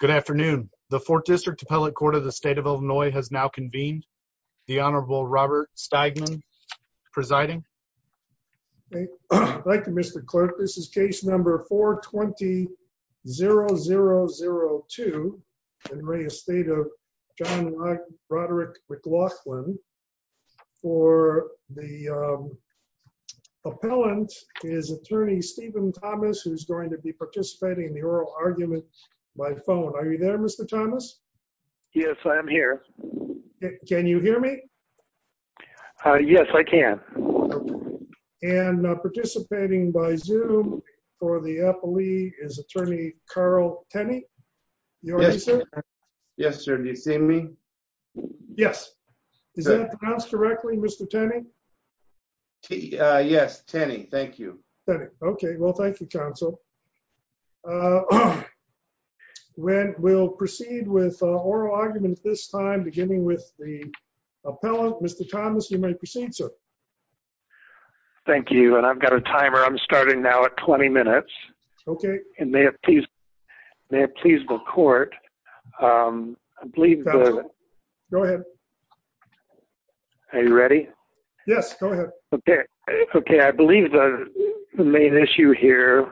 Good afternoon. The fourth district appellate court of the state of Illinois has now convened. The Honorable Robert Stagman presiding. Thank you, Mr Clerk. This is case number 4 20 0002. In re Estate of John Roderick McLaughlin for the appellant is attorney Stephen Thomas, who's going to be participating in the phone. Are you there, Mr Thomas? Yes, I'm here. Can you hear me? Uh, yes, I can. And participating by zoom for the appellee is attorney Carl Tenney. Yes, sir. Yes, sir. Do you see me? Yes. Is that pronounced directly, Mr Tenney? Yes, Tenney. Thank you. Okay. Well, thank you, Counsel. Uh, when we'll proceed with oral argument this time, beginning with the appellant, Mr Thomas, you may proceed, sir. Thank you. And I've got a timer. I'm starting now at 20 minutes. Okay. And yes, go ahead. Okay. Okay. I believe the main issue here,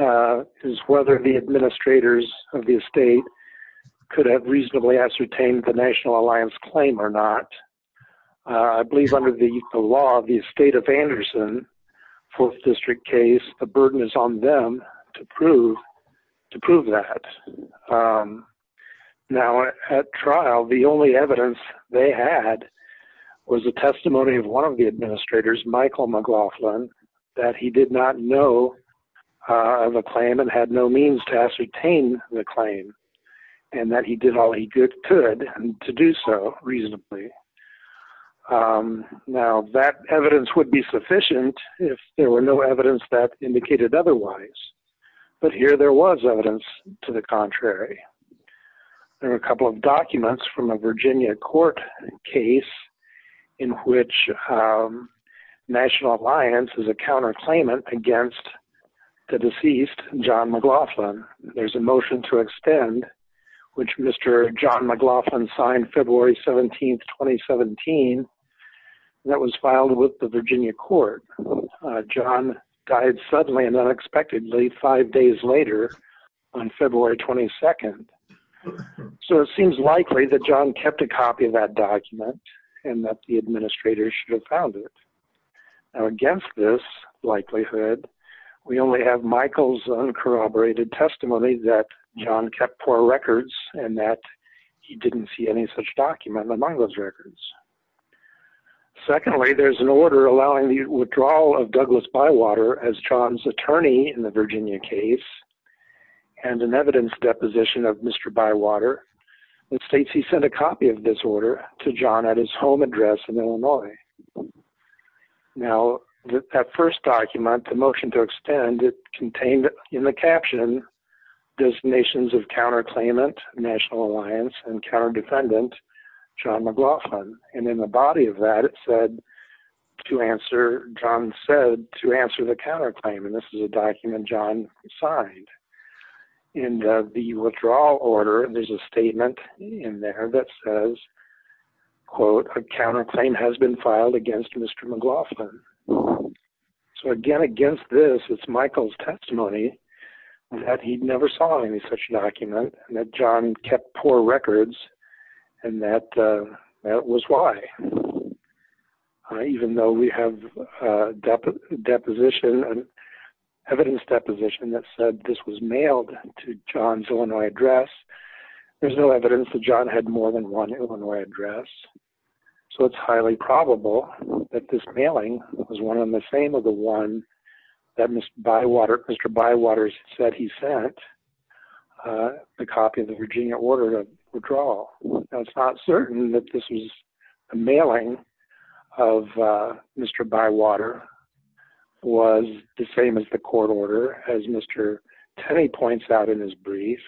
uh, is whether the administrators of the estate could have reasonably ascertained the National Alliance claim or not. I believe under the law of the state of Anderson Fourth District case, the burden is on them to prove to prove that. Um, now at trial, the only evidence they had was the testimony of one of the administrators, Michael McLaughlin, that he did not know of a claim and had no means to ascertain the claim and that he did all he could to do so reasonably. Um, now that evidence would be sufficient if there were no evidence that indicated otherwise. But here there was evidence to the contrary. There are a couple of from a Virginia court case in which, um, National Alliance is a counter claimant against the deceased John McLaughlin. There's a motion to extend which Mr John McLaughlin signed February 17th, 2017. That was filed with the Virginia court. John died suddenly and unexpectedly five days later on John kept a copy of that document and that the administrator should have found it. Now, against this likelihood, we only have Michael's uncorroborated testimony that John kept poor records and that he didn't see any such document among those records. Secondly, there's an order allowing the withdrawal of Douglas Bywater as John's attorney in the Virginia case and an evidence deposition of Mr Bywater and states he sent a copy of this order to John at his home address in Illinois. Now, that first document, the motion to extend it contained in the caption destinations of counter claimant, National Alliance and counter defendant John McLaughlin. And in the body of that, it said to answer, John said to withdraw order. And there's a statement in there that says, quote, a counter claim has been filed against Mr McLaughlin. So again, against this, it's Michael's testimony that he'd never saw any such document and that John kept poor records. And that that was why, even though we have deposition and evidence deposition that said this was mailed to John's Illinois address, there's no evidence that John had more than one Illinois address. So it's highly probable that this mailing was one of the same of the one that Mr Bywater, Mr Bywater said he sent the copy of the Virginia order to withdraw. It's not certain that this is a mailing of Mr Bywater was the same as the court order, as Mr Tenney points out in his brief.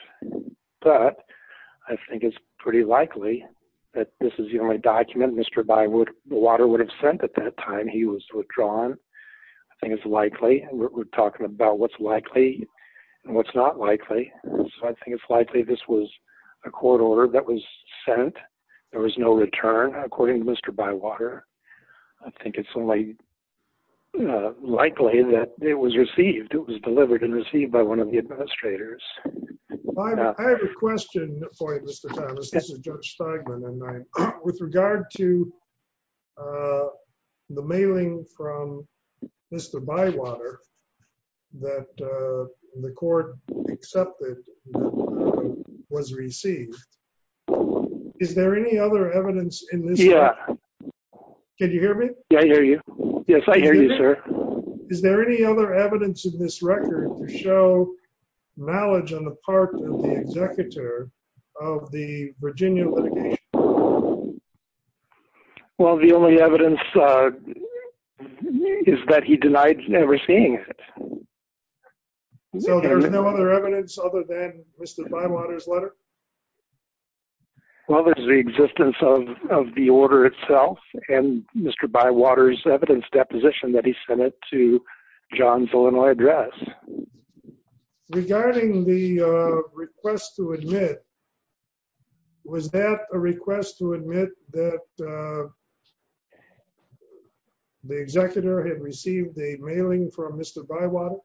But I think it's pretty likely that this is the only document Mr Bywater would have sent at that time he was withdrawn. I think it's likely we're talking about what's likely and what's not likely. So I think it's likely this was a court order that was sent. There was no return, according to Mr Bywater. I think it's only likely that it was received. It was delivered and received by one of the administrators. I have a question for you, Mr Thomas. This is Judge Steigman and I with regard to, uh, the mailing from Mr Bywater that the court accepted was received. Is there any other evidence in this? Yeah. Can you hear me? I hear you. Yes, I hear you, sir. Is there any other evidence in this record to show knowledge on the part of the executor of the Virginia litigation? Well, the only evidence is that he other than Mr Bywater's letter. Well, there's the existence of of the order itself and Mr Bywater's evidence deposition that he sent it to John's Illinois address regarding the request to admit. Was that a request to admit that, uh, the executor had received a mailing from Mr Bywater?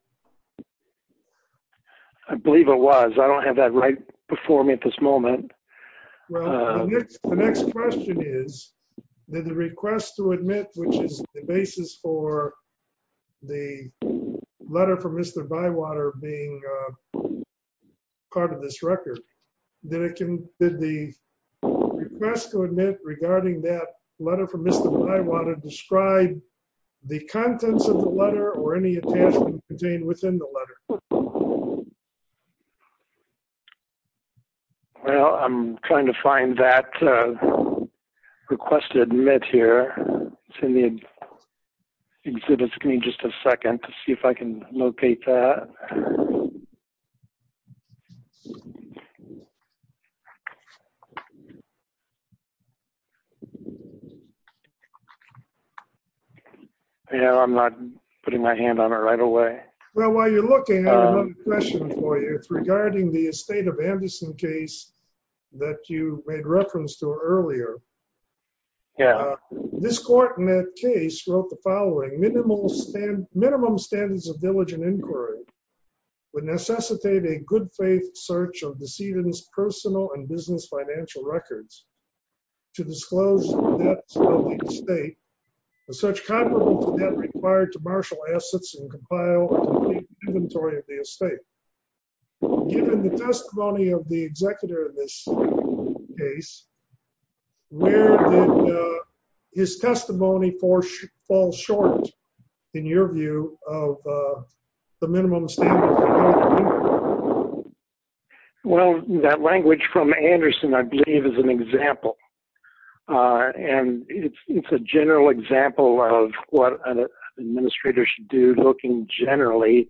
I believe it was. I don't have that right before me at this moment. The next question is, did the request to admit, which is the basis for the letter from Mr Bywater being part of this record that it can did the request to admit regarding that letter from Mr Bywater described the contents of the letter or any attachment contained within the letter? Well, I'm trying to find that, uh, request to admit here. It's in the exhibit screen. Just a second to see if I can locate that. Yeah, I'm not putting my hand on it right away. Well, while you're looking, I have a question for you. It's regarding the estate of Anderson case that you made reference to earlier. Yeah, this court in that case wrote the following minimal stand. Minimum standards of diligent inquiry would necessitate a good faith search of deceiving his personal and business financial records to disclose that state such comparable to that required to marshal assets and compile inventory of the estate. Given the testimony of the executor of this case, where his testimony for fall short in your view of, uh, the minimum standard. Well, that language from Anderson, I believe, is an example. Uh, and it's a general example of what an administrator should do. Looking generally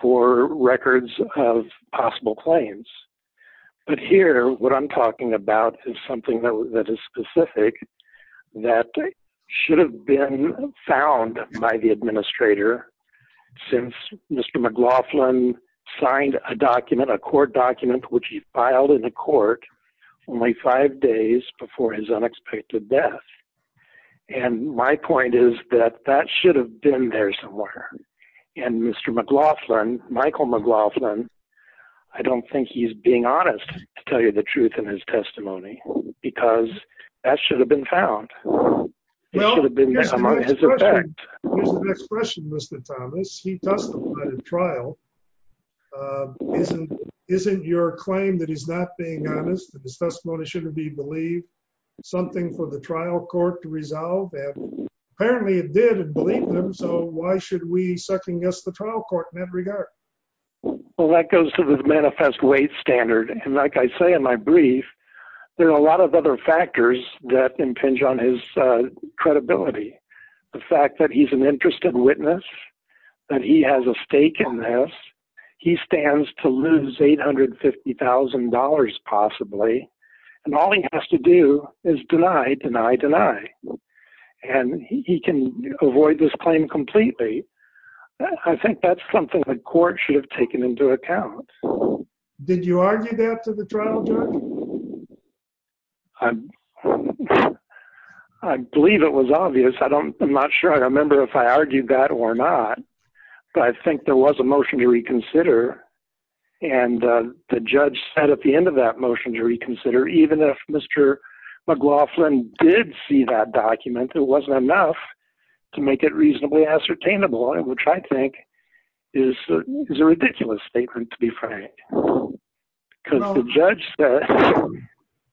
for records of possible claims. But here, what I'm talking about is something that is specific that should have been found by the administrator. Since Mr McLaughlin signed a document, a court document which he filed in the court only five days before his unexpected death. And my point is that that should have been there somewhere. And Mr McLaughlin, Michael McLaughlin, I don't think he's being honest to tell you the truth in his testimony because that should have been found. Well, it should have been among his effect. Here's the next question, Mr Thomas. He testified at trial. Uh, isn't isn't your claim that he's not being honest that his testimony shouldn't be believed something for the trial court to resolve? And apparently it did believe them. So why should we second guess the trial court in that regard? Well, that goes to the manifest weight standard. And like I say in my brief, there are a lot of other factors that impinge on his credibility. The fact that he's an interested witness that he has a stake in this. He stands to lose $850,000 possibly. And all he has to do is deny, deny, deny. And he can avoid this claim completely. I think that's something the court should have taken into account. Did you argue that to the trial judge? I believe it was obvious. I don't I'm not sure I remember if I argued that or not. But I think there was a motion to reconsider. And the judge said at the end of that motion to reconsider, even if Mr McLaughlin did see that document, there wasn't enough to make it reasonably ascertainable, which I think is a ridiculous statement, to be frank, because the judge said,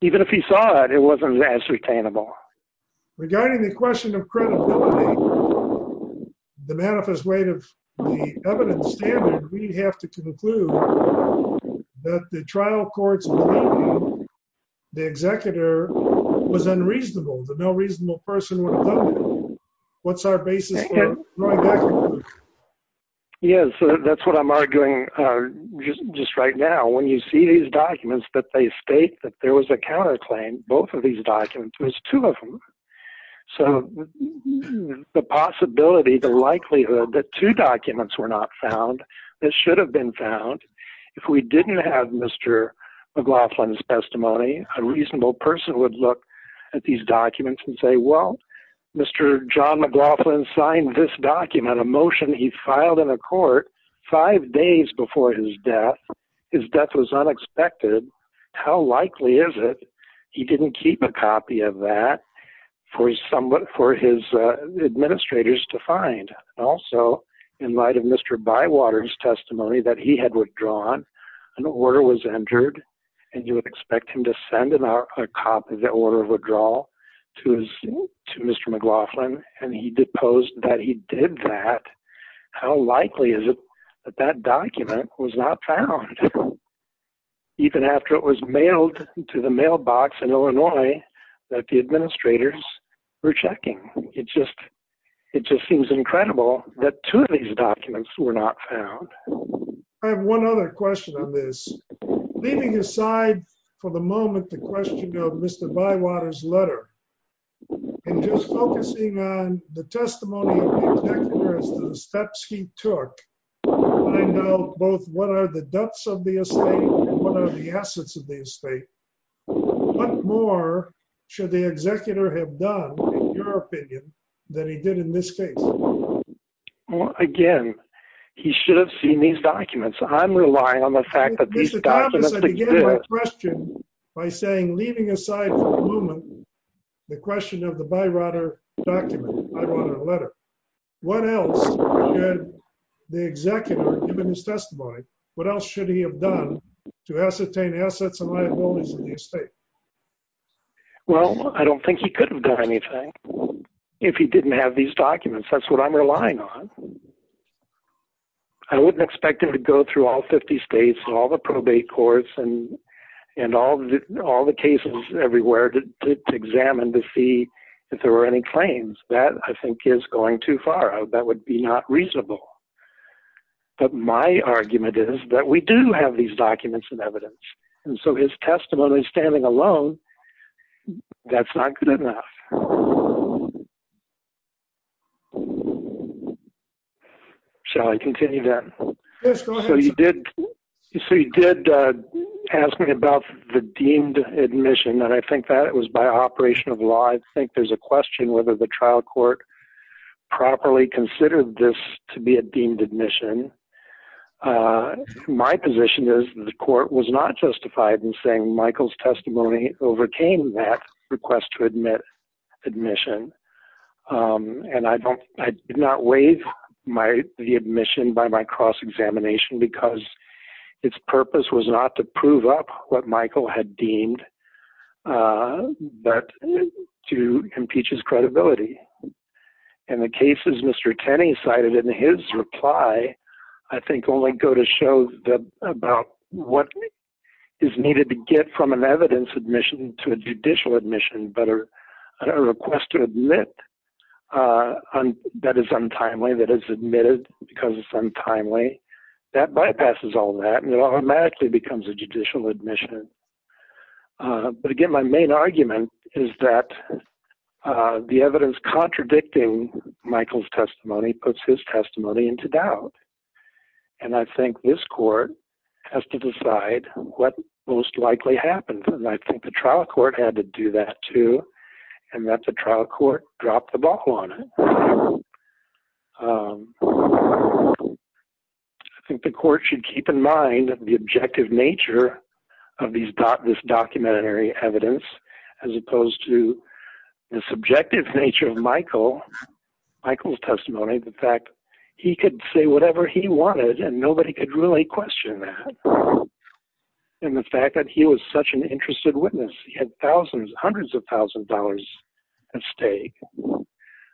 even if he saw it, it wasn't as retainable. Regarding the question of credibility, the manifest weight of the evidence standard, we have to conclude that the trial courts, the executor was unreasonable. The no reasonable person what's our basis? Yes, that's what I'm arguing just right now. When you see these documents that they state that there was a counterclaim, both of these documents was two of them. So the possibility the likelihood that two documents were not found that should have been found. If we didn't have Mr McLaughlin's Mr. John McLaughlin signed this document a motion he filed in a court five days before his death. His death was unexpected. How likely is it? He didn't keep a copy of that for his somewhat for his administrators to find. Also, in light of Mr Bywater's testimony that he had withdrawn, an order was entered and you would expect him to send in a copy of the order of withdrawal to his to Mr McLaughlin. And he deposed that he did that. How likely is it that that document was not found even after it was mailed to the mailbox in Illinois that the administrators were checking? It just it just seems incredible that two of these documents were not found. I have one other question on this. Leaving aside for the moment, the question of Mr Bywater's letter and just focusing on the testimony of the steps he took. I know both. What are the depths of the estate? What are the assets of the estate? What more should the executor have done your opinion that he did in this case again? He should have seen these documents. I'm relying on the fact that these documents by saying, leaving aside for a moment the question of the Bywater document. I wanted a letter. What else should the executor, given his testimony, what else should he have done to ascertain assets and liabilities of the estate? Well, I don't think he could have done anything if he didn't have these documents. That's what I'm relying on. I wouldn't expect him to go through all 50 states and all the probate courts and and all the all the cases everywhere to examine to see if there were any claims. That, I think, is going too far. That would be not reasonable. But my argument is that we do have these documents and evidence and so his testimony, standing alone, that's not good enough. Shall I continue then? Yes, go ahead. So you did ask me about the deemed admission and I think that it was by operation of law. I think there's a question whether the trial court properly considered this to be a deemed admission. My position is the court was not justified in saying Michael's testimony overcame that request to admit admission. And I did not waive the admission by my cross-examination because its purpose was not to prove up what Michael had deemed, but to impeach his credibility. And the cases Mr. Tenney cited in his reply, I think only go to show that about what is needed to get from an evidence admission to a judicial admission, but a request to admit that is untimely, that is admitted because it's untimely, that bypasses all that and it automatically becomes a judicial admission. But again, my main argument is that the evidence contradicting Michael's testimony puts his testimony into doubt. And I think this court has to decide what most likely happened and I think the trial court had to do that too and that the trial court dropped the ball on it. I think the court should keep in mind the objective nature of these documentary evidence as opposed to the subjective nature of Michael. Michael's testimony, the fact he could say whatever he wanted and nobody could really question that. And the fact that he was such an interested witness, he had thousands, hundreds of thousand dollars at stake.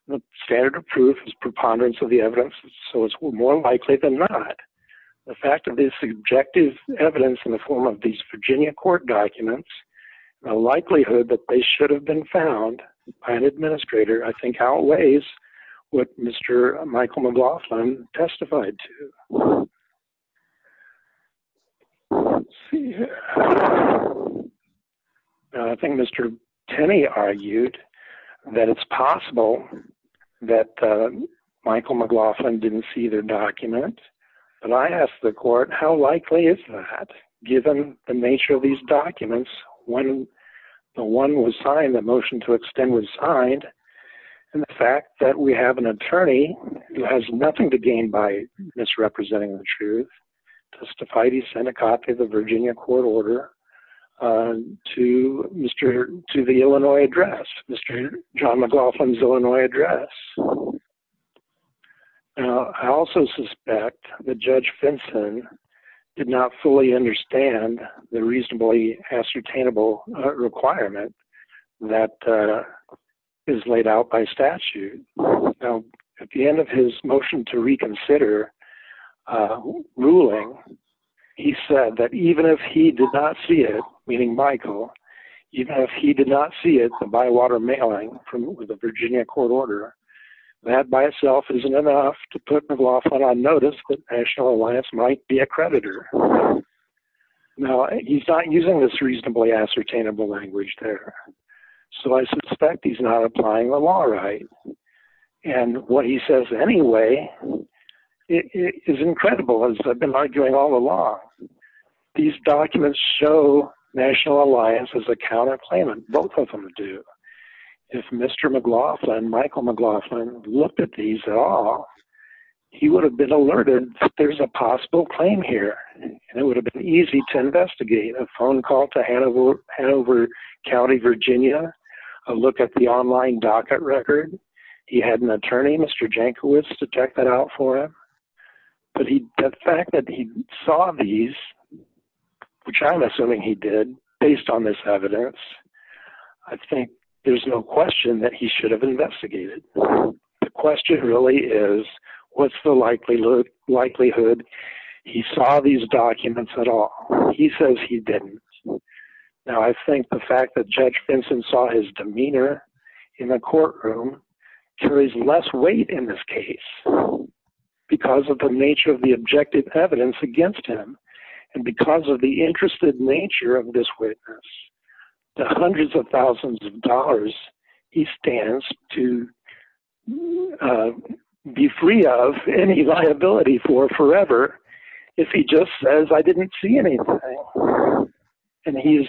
The standard of proof is preponderance of the evidence, so it's more likely than not. The fact of this objective evidence in the form of these Virginia court documents, the likelihood that they should have been found by an administrator, I think outweighs what Mr. Michael McLaughlin testified to. I think Mr. Tenney argued that it's possible that Michael McLaughlin didn't see their document, but I asked the court how likely is that given the nature of these documents when the one was signed, the motion to extend was signed, and the fact that we have an attorney who has nothing to gain by misrepresenting the truth testified he sent a copy of the Virginia court order to the Illinois address, Mr. John McLaughlin's address. I also suspect that Judge Finson did not fully understand the reasonably ascertainable requirement that is laid out by statute. At the end of his motion to reconsider ruling, he said that even if he did not see it, meaning Michael, even by itself isn't enough to put McLaughlin on notice that National Alliance might be a creditor. Now he's not using this reasonably ascertainable language there, so I suspect he's not applying the law right, and what he says anyway is incredible as I've been arguing all along. These documents show National Alliance as a counterclaim, and both of them do. If Mr. McLaughlin, Michael had looked at these at all, he would have been alerted that there's a possible claim here, and it would have been easy to investigate. A phone call to Hanover County, Virginia, a look at the online docket record. He had an attorney, Mr. Jankiewicz, to check that out for him, but the fact that he saw these, which I'm assuming he did based on this evidence, I think there's no question that he should have investigated. The question really is, what's the likelihood he saw these documents at all? He says he didn't. Now I think the fact that Judge Vincent saw his demeanor in a courtroom carries less weight in this case because of the nature of the objective evidence against him, and because of the interested nature of this witness. The hundreds of thousands of dollars he stands to be free of any liability for forever if he just says, I didn't see anything, and he's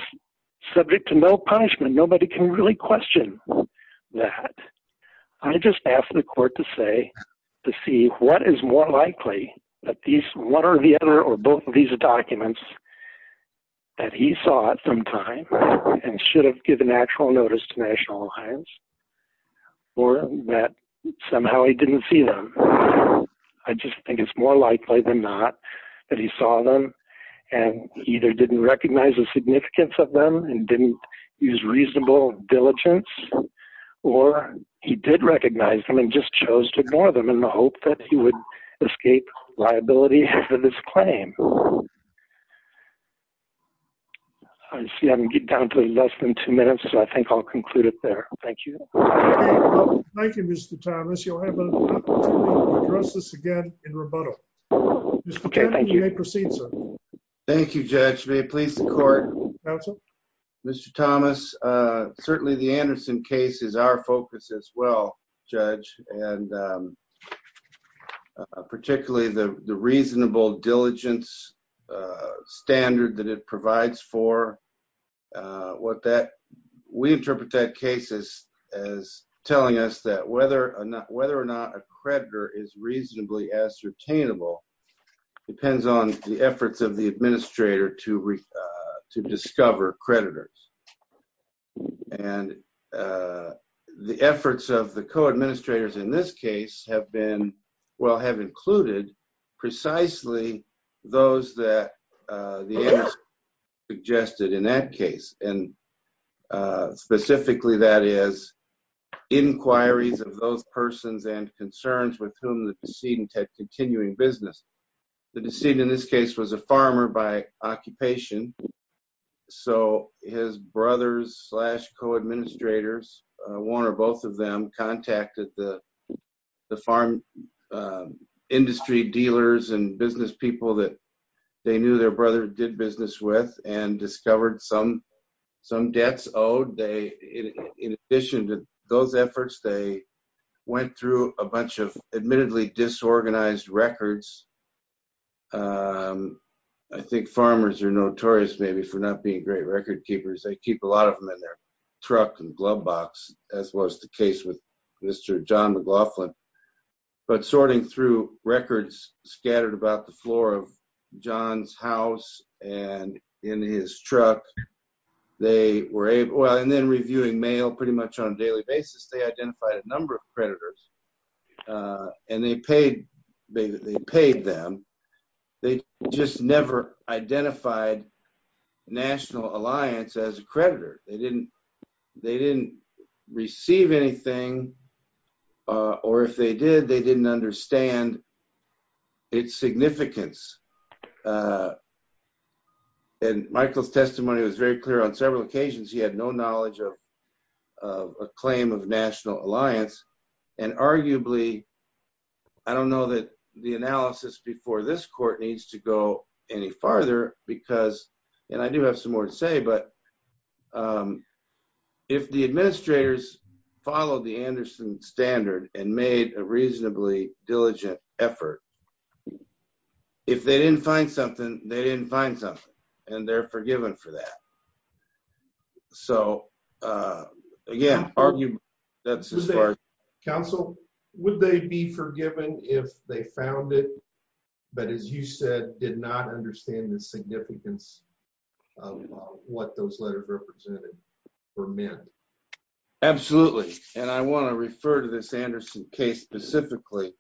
subject to no punishment. Nobody can really question that. I just asked the court to say, to see what is more likely that these, one or the other, or both of the documents that he saw at some time and should have given actual notice to National Alliance, or that somehow he didn't see them. I just think it's more likely than not that he saw them and either didn't recognize the significance of them and didn't use reasonable diligence, or he did recognize them and just chose to ignore them in the hope that he would escape liability for this claim. I see I'm getting down to less than two minutes, so I think I'll conclude it there. Thank you. Thank you, Mr. Thomas. You'll have an opportunity to address this again in rebuttal. Mr. Cannon, you may proceed, sir. Thank you, Judge. May it please the court? Counsel? Mr. Thomas, certainly the Anderson case is our focus as well, Judge. And particularly the reasonable diligence standard that it provides for, what that, we interpret that case as telling us that whether or not, whether or not a creditor is reasonably ascertainable depends on the efforts of the administrator to discover creditors. And the efforts of the co-administrators in this case have been, well, have included precisely those that the Anderson suggested in that case, and specifically that is inquiries of those persons and concerns with whom the decedent had continuing business. The decedent in this case was a farmer by occupation, so his brothers slash co-administrators, one or both of them, contacted the farm industry dealers and business people that they knew their brother did business with and discovered some debts owed. In addition to those efforts, they went through a bunch of admittedly disorganized records. I think farmers are notorious maybe for not being great record keepers. They keep a lot of them in their truck and glove box, as was the case with Mr. John McLaughlin. But sorting through records scattered about the floor of John's house and in his truck, they were able, and then reviewing mail pretty much on a daily basis, they identified a number of national alliance as a creditor. They didn't receive anything, or if they did, they didn't understand its significance. And Michael's testimony was very clear on several occasions. He had no knowledge of a claim of national alliance, and arguably, I don't know that the analysis before this court needs to go any farther because, and I do have some more to say, but if the administrators followed the Anderson standard and made a reasonably diligent effort, if they didn't find something, they didn't find something, and they're forgiven for that. So again, that's as far as... Counsel, would they be forgiven if they found it, but as you said, did not understand the significance of what those letters represented for men? Absolutely, and I want to refer to this Anderson case specifically.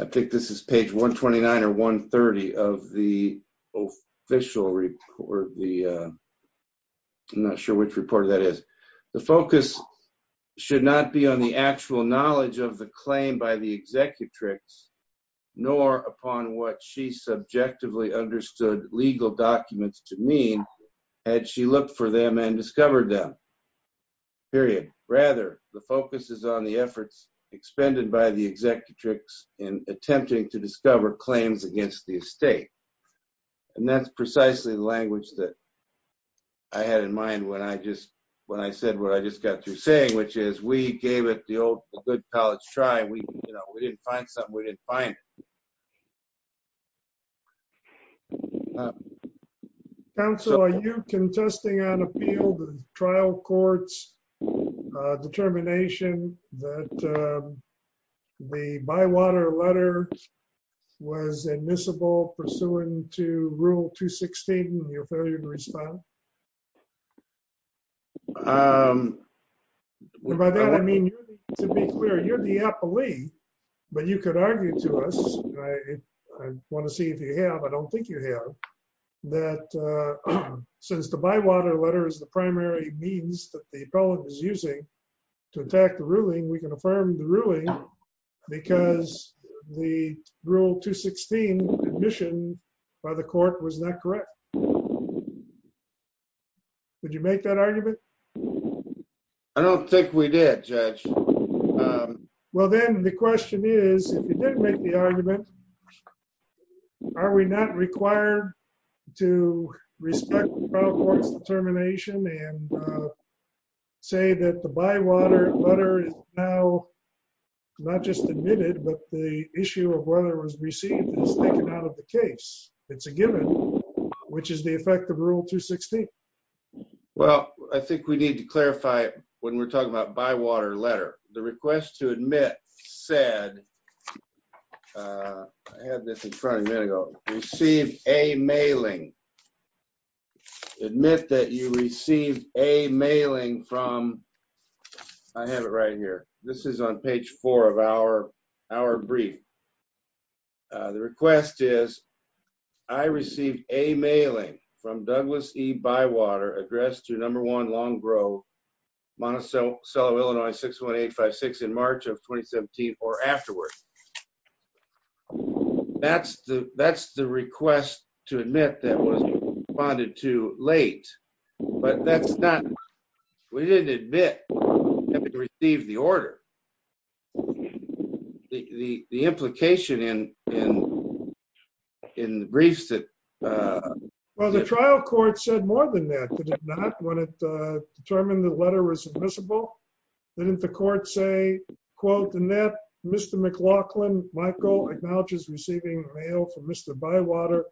I think this is page 129 or 130 of the official report. I'm not sure which report that is. The focus should not be on the actual knowledge of the claim by the executrix, nor upon what she subjectively understood legal documents to mean, had she looked for them and discovered them, period. Rather, the focus is on the efforts expended by the executrix in attempting to discover claims against the estate, and that's precisely the language that I had in mind when I just, when I said what I just got through saying, which is, we gave it the good college try. We didn't find something. We didn't find it. Counsel, are you contesting on appeal to the trial court's determination that the Bywater letter was admissible pursuant to Rule 216 and your failure to respond? By that I mean, to be clear, you're the appellee, but you could argue to us, I want to see if you have, I don't think you have, that since the Bywater letter is the primary means that the appellant is using to attack the ruling, we can affirm the ruling because the Rule 216 admission by the court was not correct. Would you make that argument? I don't think we did, Judge. Well then, the I think we need to clarify when we're talking about Bywater letter. The request to admit said, I had this in front of me a minute ago, I received a mailing. Admit that you received a mailing from, I have it right here, this is on page four of our brief. The request is, I received a mailing from Douglas E. Bywater addressed to number one, Long Grove, Monticello, Illinois, 61856 in March of 2017 or afterwards. That's the request to admit that was responded to late, but that's not, we didn't admit having received the order. The implication in the briefs that... Well, the trial court said more than that, did it not, when it determined the letter was admissible? Didn't the court say, quote, Mr. McLaughlin, Michael, acknowledges receiving mail from Mr. Bywater,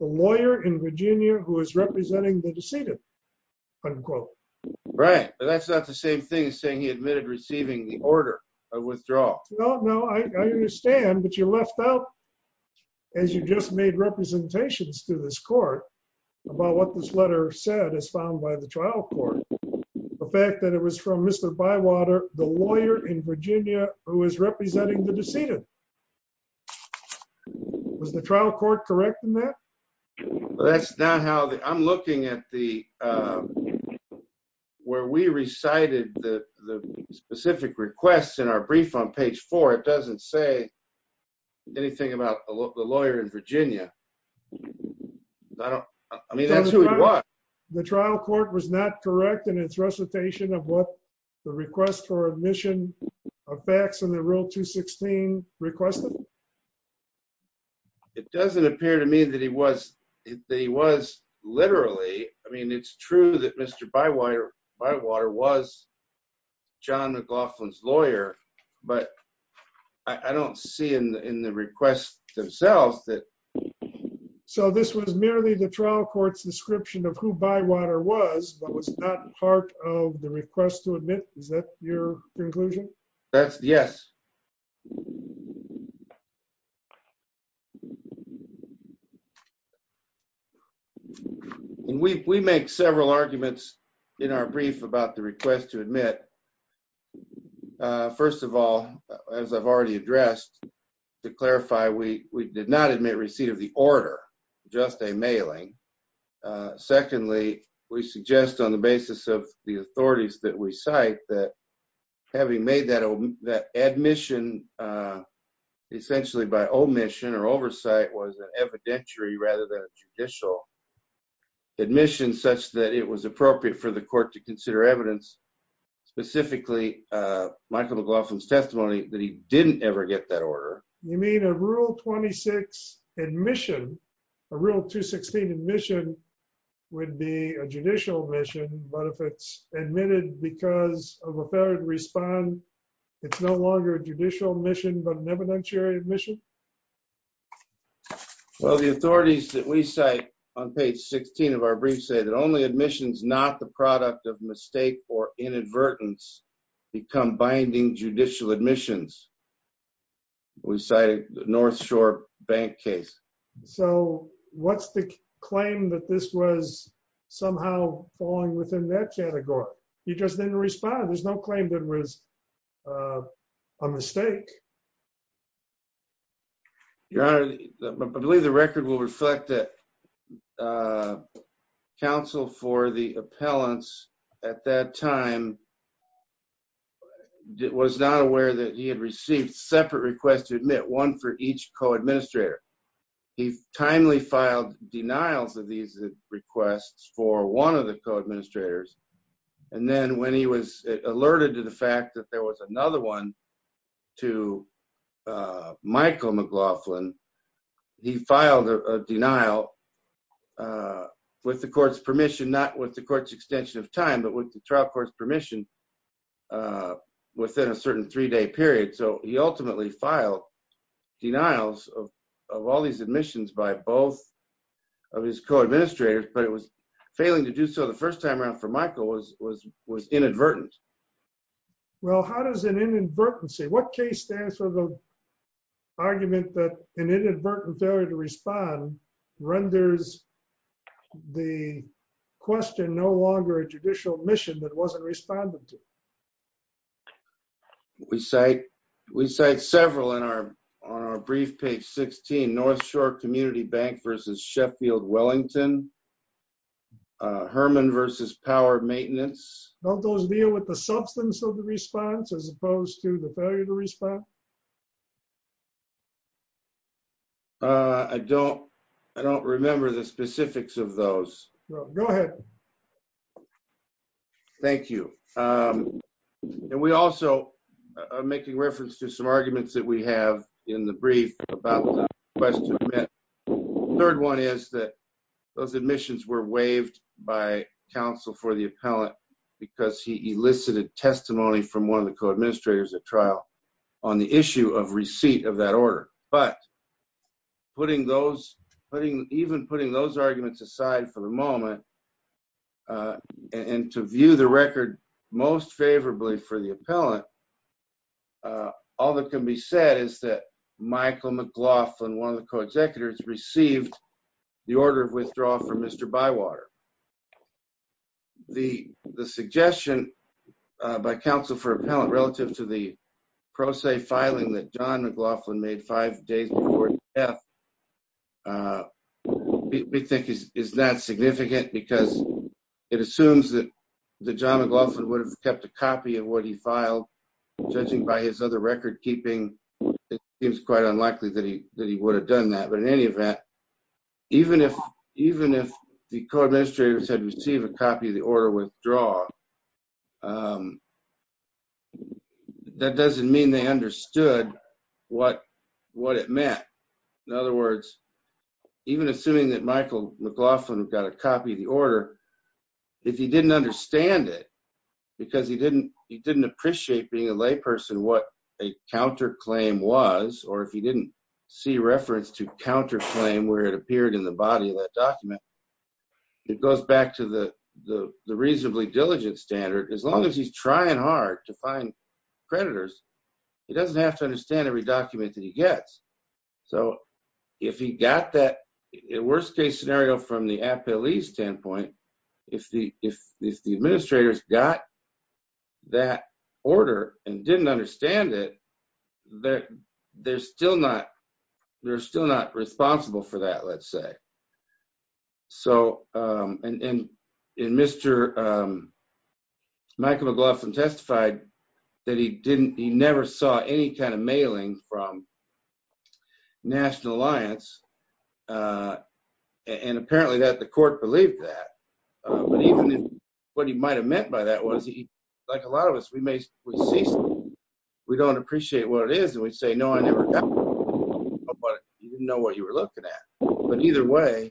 the lawyer in Virginia who is representing the decedent, unquote. Right, but that's not the same thing as saying he admitted receiving the order of withdrawal. No, no, I understand, but you left out, as you just made representations to this court, about what this letter said as found by the trial court. The fact that it was from Mr. Bywater, the lawyer in Virginia who is representing the decedent. Was the trial court correct in that? That's not how, I'm looking at the, where we recited the specific requests in our brief on page four, it doesn't say anything about the lawyer in Virginia. I mean, that's who he was. The trial court was not correct in its recitation of what the request for admission of facts in the rule 216 requested? It doesn't appear to me that he was literally, I mean, it's true that Mr. Bywater was John McLaughlin's lawyer, but I don't see in the request themselves that... So this was merely the trial court's description of who Bywater was, but was not part of the request to admit, is that your conclusion? Yes. We make several arguments in our brief about the request to admit. First of all, as I've already addressed, to clarify, we did not admit receipt of the order, just a mailing. Secondly, we suggest on the basis of the authorities that we cite that having made that admission essentially by omission or oversight was an evidentiary rather than a judicial admission such that it was appropriate for the court to consider evidence, specifically Michael McLaughlin's testimony, that he didn't ever get that order. You mean a rule 26 admission, a rule 216 admission would be a judicial admission, but if it's admitted because of a failed respond, it's no longer a judicial admission, but an evidentiary admission? Well, the authorities that we cite on page 16 of our brief say that only admissions not the product of mistake or inadvertence become binding judicial admissions. We cited the North Shore Bank case. So what's the claim that this was somehow falling within that category? You just didn't respond. There's no claim that was a mistake. Your Honor, I believe the record will reflect that counsel for the appellants at that time was not aware that he had received separate requests to admit one for each co-administrator. He timely filed denials of these requests for one of the co-administrators. And then when he was alerted to the fact that there was another one to Michael McLaughlin, he filed a denial with the court's permission, not with the court's extension of time, but with the trial court's permission within a certain three-day period. So he ultimately filed denials of all these admissions by both of his co-administrators, but it was failing to do so the first time around for Michael was inadvertent. Well, how does an inadvertency, what case stands for the argument that an inadvertent failure to respond renders the question no longer a judicial admission that wasn't responded to? We cite several on our brief page 16, North Shore Community Bank versus Sheffield Wellington, Herman versus Power Maintenance. Don't those deal with the substance of the response as opposed to the failure to respond? I don't remember the specifics of those. Go ahead. Thank you. And we also are making reference to some arguments that we have in the brief about the question. The third one is that those admissions were waived by counsel for the appellant because he elicited testimony from one of the co-administrators at trial on the issue of receipt of that order. But even putting those arguments aside for the moment and to view the record most favorably for the appellant, all that can be said is that Michael McLaughlin, one of the co-executives, received the order of withdrawal from Mr. Bywater. The suggestion by counsel for appellant relative to the pro se filing that John McLaughlin made five days before his death, we think is not significant because it assumes that John McLaughlin would have kept a copy of what he filed. Judging by his other record keeping, it seems quite unlikely that he would have done that. But in any event, even if the co-administrators had received a copy of the order of withdrawal, that doesn't mean they understood what it meant. In other words, even assuming that Michael McLaughlin got a copy of the order, if he didn't understand it because he didn't appreciate being a layperson what a counterclaim was, or if he didn't see reference to counterclaim where it appeared in the body of that document, it goes back to the reasonably diligent standard. As long as he's trying hard to find creditors, he doesn't have to understand every document that he gets. So if he got that worst case scenario from the appellee standpoint, if the administrators got that order and didn't understand it, they're still not responsible for that, let's say. And Mr. Michael McLaughlin testified that he never saw any kind of mailing from National Alliance, and apparently the court believed that. But even if what he might have meant by that was, like a lot of us, we don't appreciate what it is, and we say, no, I never got it, but you didn't know what you were looking at. But either way,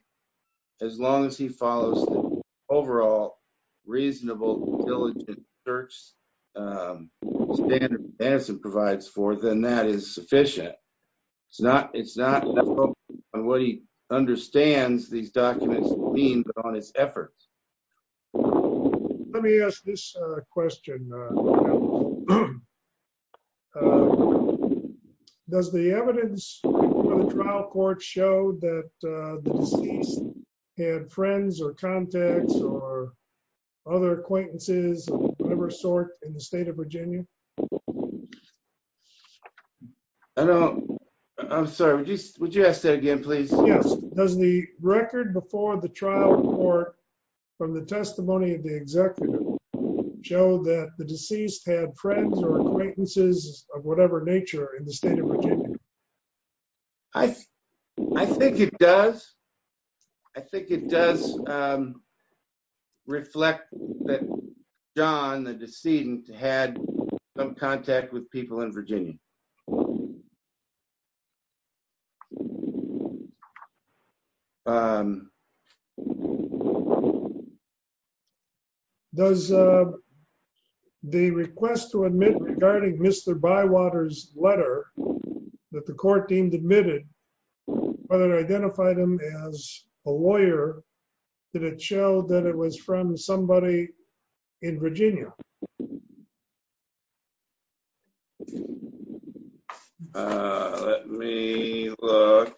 as long as he follows the overall reasonable, diligent search standard that Madison provides for, then that is sufficient. It's not what he understands these documents mean, but on his efforts. Let me ask this question. Does the evidence from the trial court show that the deceased had friends or contacts or other acquaintances of whatever sort in the state of Virginia? I'm sorry, would you ask that again, please? Yes. Does the record before the trial court from the testimony of the executive show that the deceased had friends or acquaintances of whatever nature in the state of Virginia? I think it does. I think it does reflect that John, the decedent, had some contact with people in Virginia. Does the request to admit regarding Mr. Bywater's letter that the court deemed admitted, whether it identified him as a lawyer, did it show that it was from somebody in Virginia? Let me look.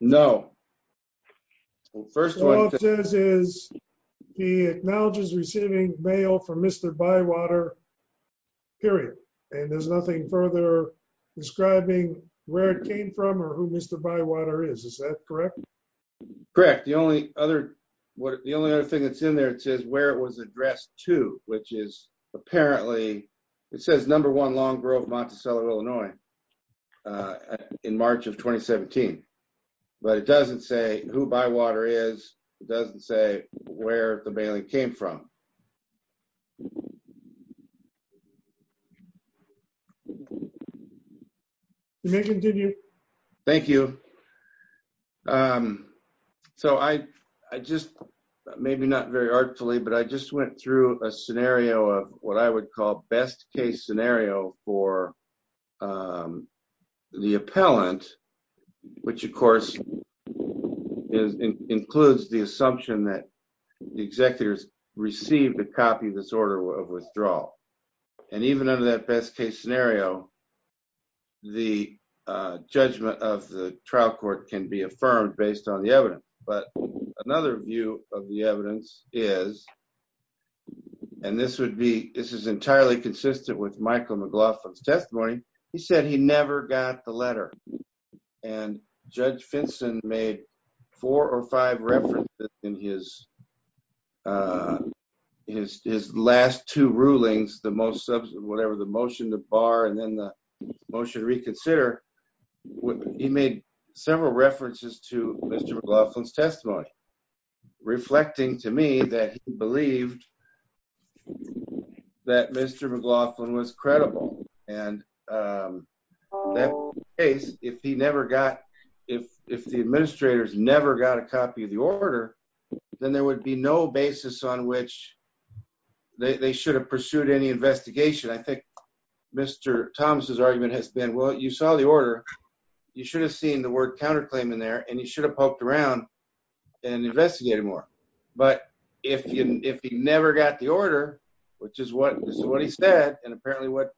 No. First of all, it says he acknowledges receiving mail from Mr. Bywater, period. And there's nothing further describing where it came from or who Mr. Bywater is, is that correct? Correct. The only other thing that's in there, it says where it was addressed to, which is apparently, it says number one, Long Grove, Monticello, Illinois, in March of 2017. But it doesn't say who Bywater is, it doesn't say where the mailing came from. Thank you. So I just, maybe not very artfully, but I just went through a scenario of what I would call best case scenario for the appellant, which, of course, includes the assumption that the executives received a copy of this order of withdrawal. And even under that best case scenario, the judgment of the trial court can be affirmed based on the evidence. But another view of the evidence is, and this is entirely consistent with Michael McLaughlin's testimony, he said he never got the letter. And Judge Finson made four or five references in his last two rulings, the motion to bar and then the motion to reconsider, he made several references to Mr. McLaughlin's testimony, reflecting to me that he believed that Mr. McLaughlin was credible. And in that case, if he never got, if the administrators never got a copy of the order, then there would be no basis on which they should have pursued any investigation. I think Mr. Thomas's argument has been, well, you saw the order, you should have seen the word counterclaim in there and you should have poked around and investigated more. But if he never got the order, which is what he said, and apparently what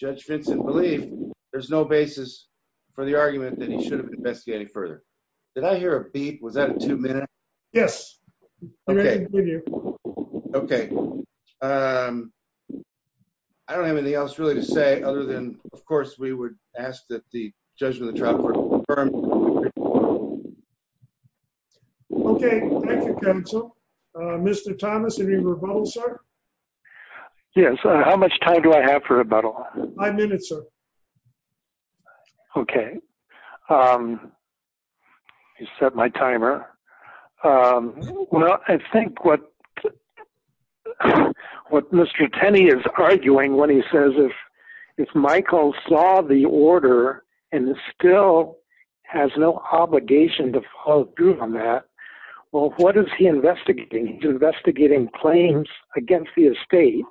Judge Finson believed, there's no basis for the argument that he should have investigated further. Did I hear a beep? Was that a two minute? Yes. Okay. I don't have anything else really to say other than, of course, we would ask that the judgment of the trial court be affirmed. Okay. Mr. Thomas, any rebuttal, sir? Yes. How much time do I have for rebuttal? Five minutes, sir. Okay. He set my timer. Well, I think what Mr. Tenney is arguing when he says if Michael saw the order and still has no obligation to file a group on that, well, what is he investigating? He's investigating claims against the estate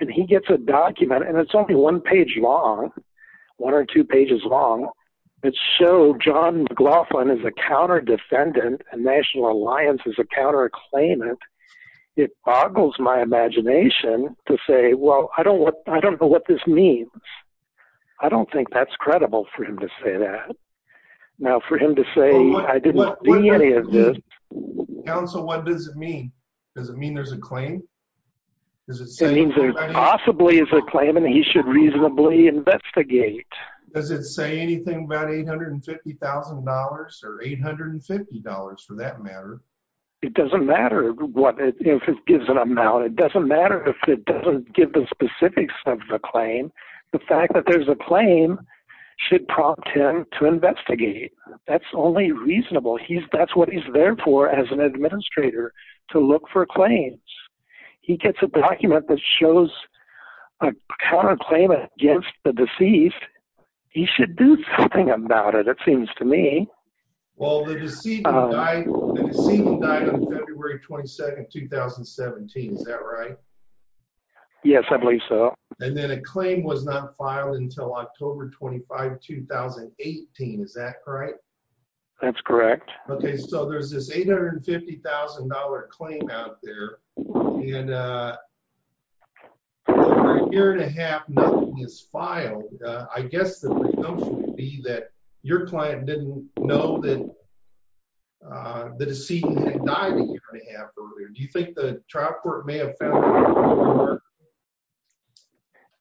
and he gets a document and it's only one page long, one or two pages long, that show John McLaughlin is a counter defendant and National Alliance is a counter claimant. It boggles my imagination to say, well, I don't know what this means. I don't think that's credible for him to say that. Now, for him to say, I didn't see any of this. Counsel, what does it mean? Does it mean there's a claim? It means there possibly is a claim and he should reasonably investigate. Does it say anything about $850,000 or $850,000 for that matter? It doesn't matter if it gives an amount. It doesn't matter if it doesn't give the specifics of the claim. The fact that there's a claim should prompt him to investigate. That's only reasonable. That's what he's there for as an administrator, to look for claims. He gets a document that shows a counter claim against the deceased. He should do something about it, it seems to me. Well, the deceased died on February 22, 2017. Is that right? Yes, I believe so. And then a claim was not filed until October 25, 2018. Is that correct? That's correct. Okay, so there's this $850,000 claim out there, and over a year and a half nothing is filed. I guess the notion would be that your client didn't know that the decedent had died a year and a half earlier. Do you think the trial court may have found that out?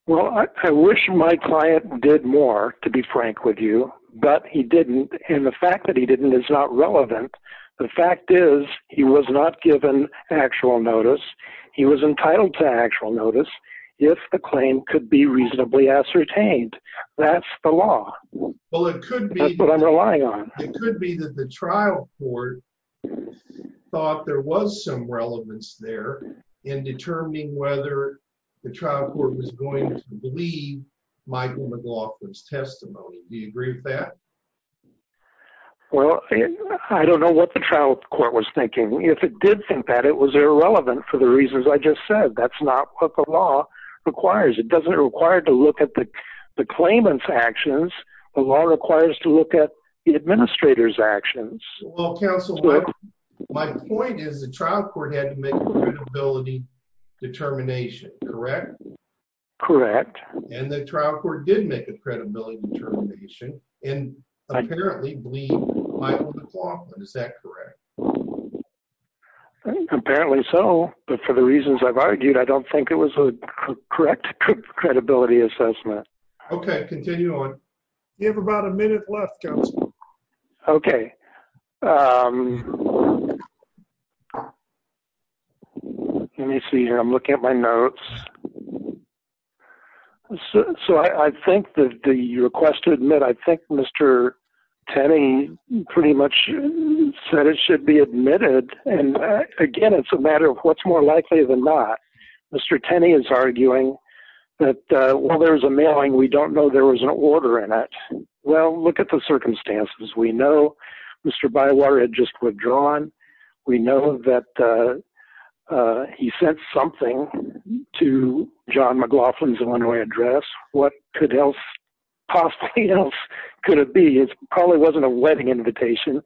Well, I wish my client did more, to be frank with you, but he didn't. And the fact that he didn't is not relevant. The fact is he was not given actual notice. He was entitled to actual notice if the claim could be reasonably ascertained. That's the law. Well, it could be. That's what I'm relying on. It could be that the trial court thought there was some relevance there in determining whether the trial court was going to believe Michael McLaughlin's testimony. Do you agree with that? Well, I don't know what the trial court was thinking. If it did think that, it was irrelevant for the reasons I just said. That's not what the law requires. It doesn't require to look at the claimant's actions. The law requires to look at the administrator's actions. Well, counsel, my point is the trial court had to make a credibility determination, correct? Correct. And the trial court did make a credibility determination and apparently believed Michael McLaughlin. Is that correct? Apparently so. But for the reasons I've argued, I don't think it was a correct credibility assessment. Okay. Continue on. You have about a minute left, counsel. Okay. Let me see here. I'm looking at my notes. So I think that the request to admit, I think Mr. Tenney pretty much said it should be admitted. And again, it's a matter of what's more likely than not. Mr. Tenney is arguing that while there was a mailing, we don't know there was an order in it. Well, look at the circumstances. We know Mr. Bywater had just withdrawn. We know that he sent something to John McLaughlin's Illinois address. What could else possibly else could it be? It probably wasn't a wedding invitation.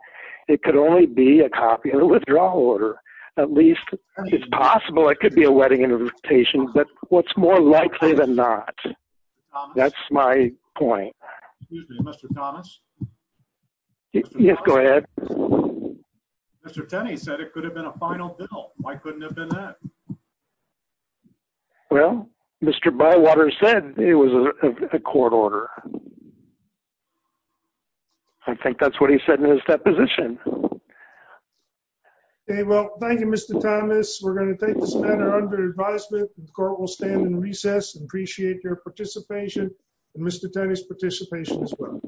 It could only be a copy of the withdrawal order. At least it's possible. It could be a wedding invitation, but what's more likely than not. That's my point. Mr. Thomas. Yes, go ahead. Mr. Tenney said it could have been a final bill. Why couldn't it have been that? Well, Mr. Bywater said it was a court order. I think that's what he said in his deposition. Well, thank you, Mr. Thomas. We're going to take this matter under advisement. The court will stand in recess and appreciate your participation and Mr. Tenney's participation as well.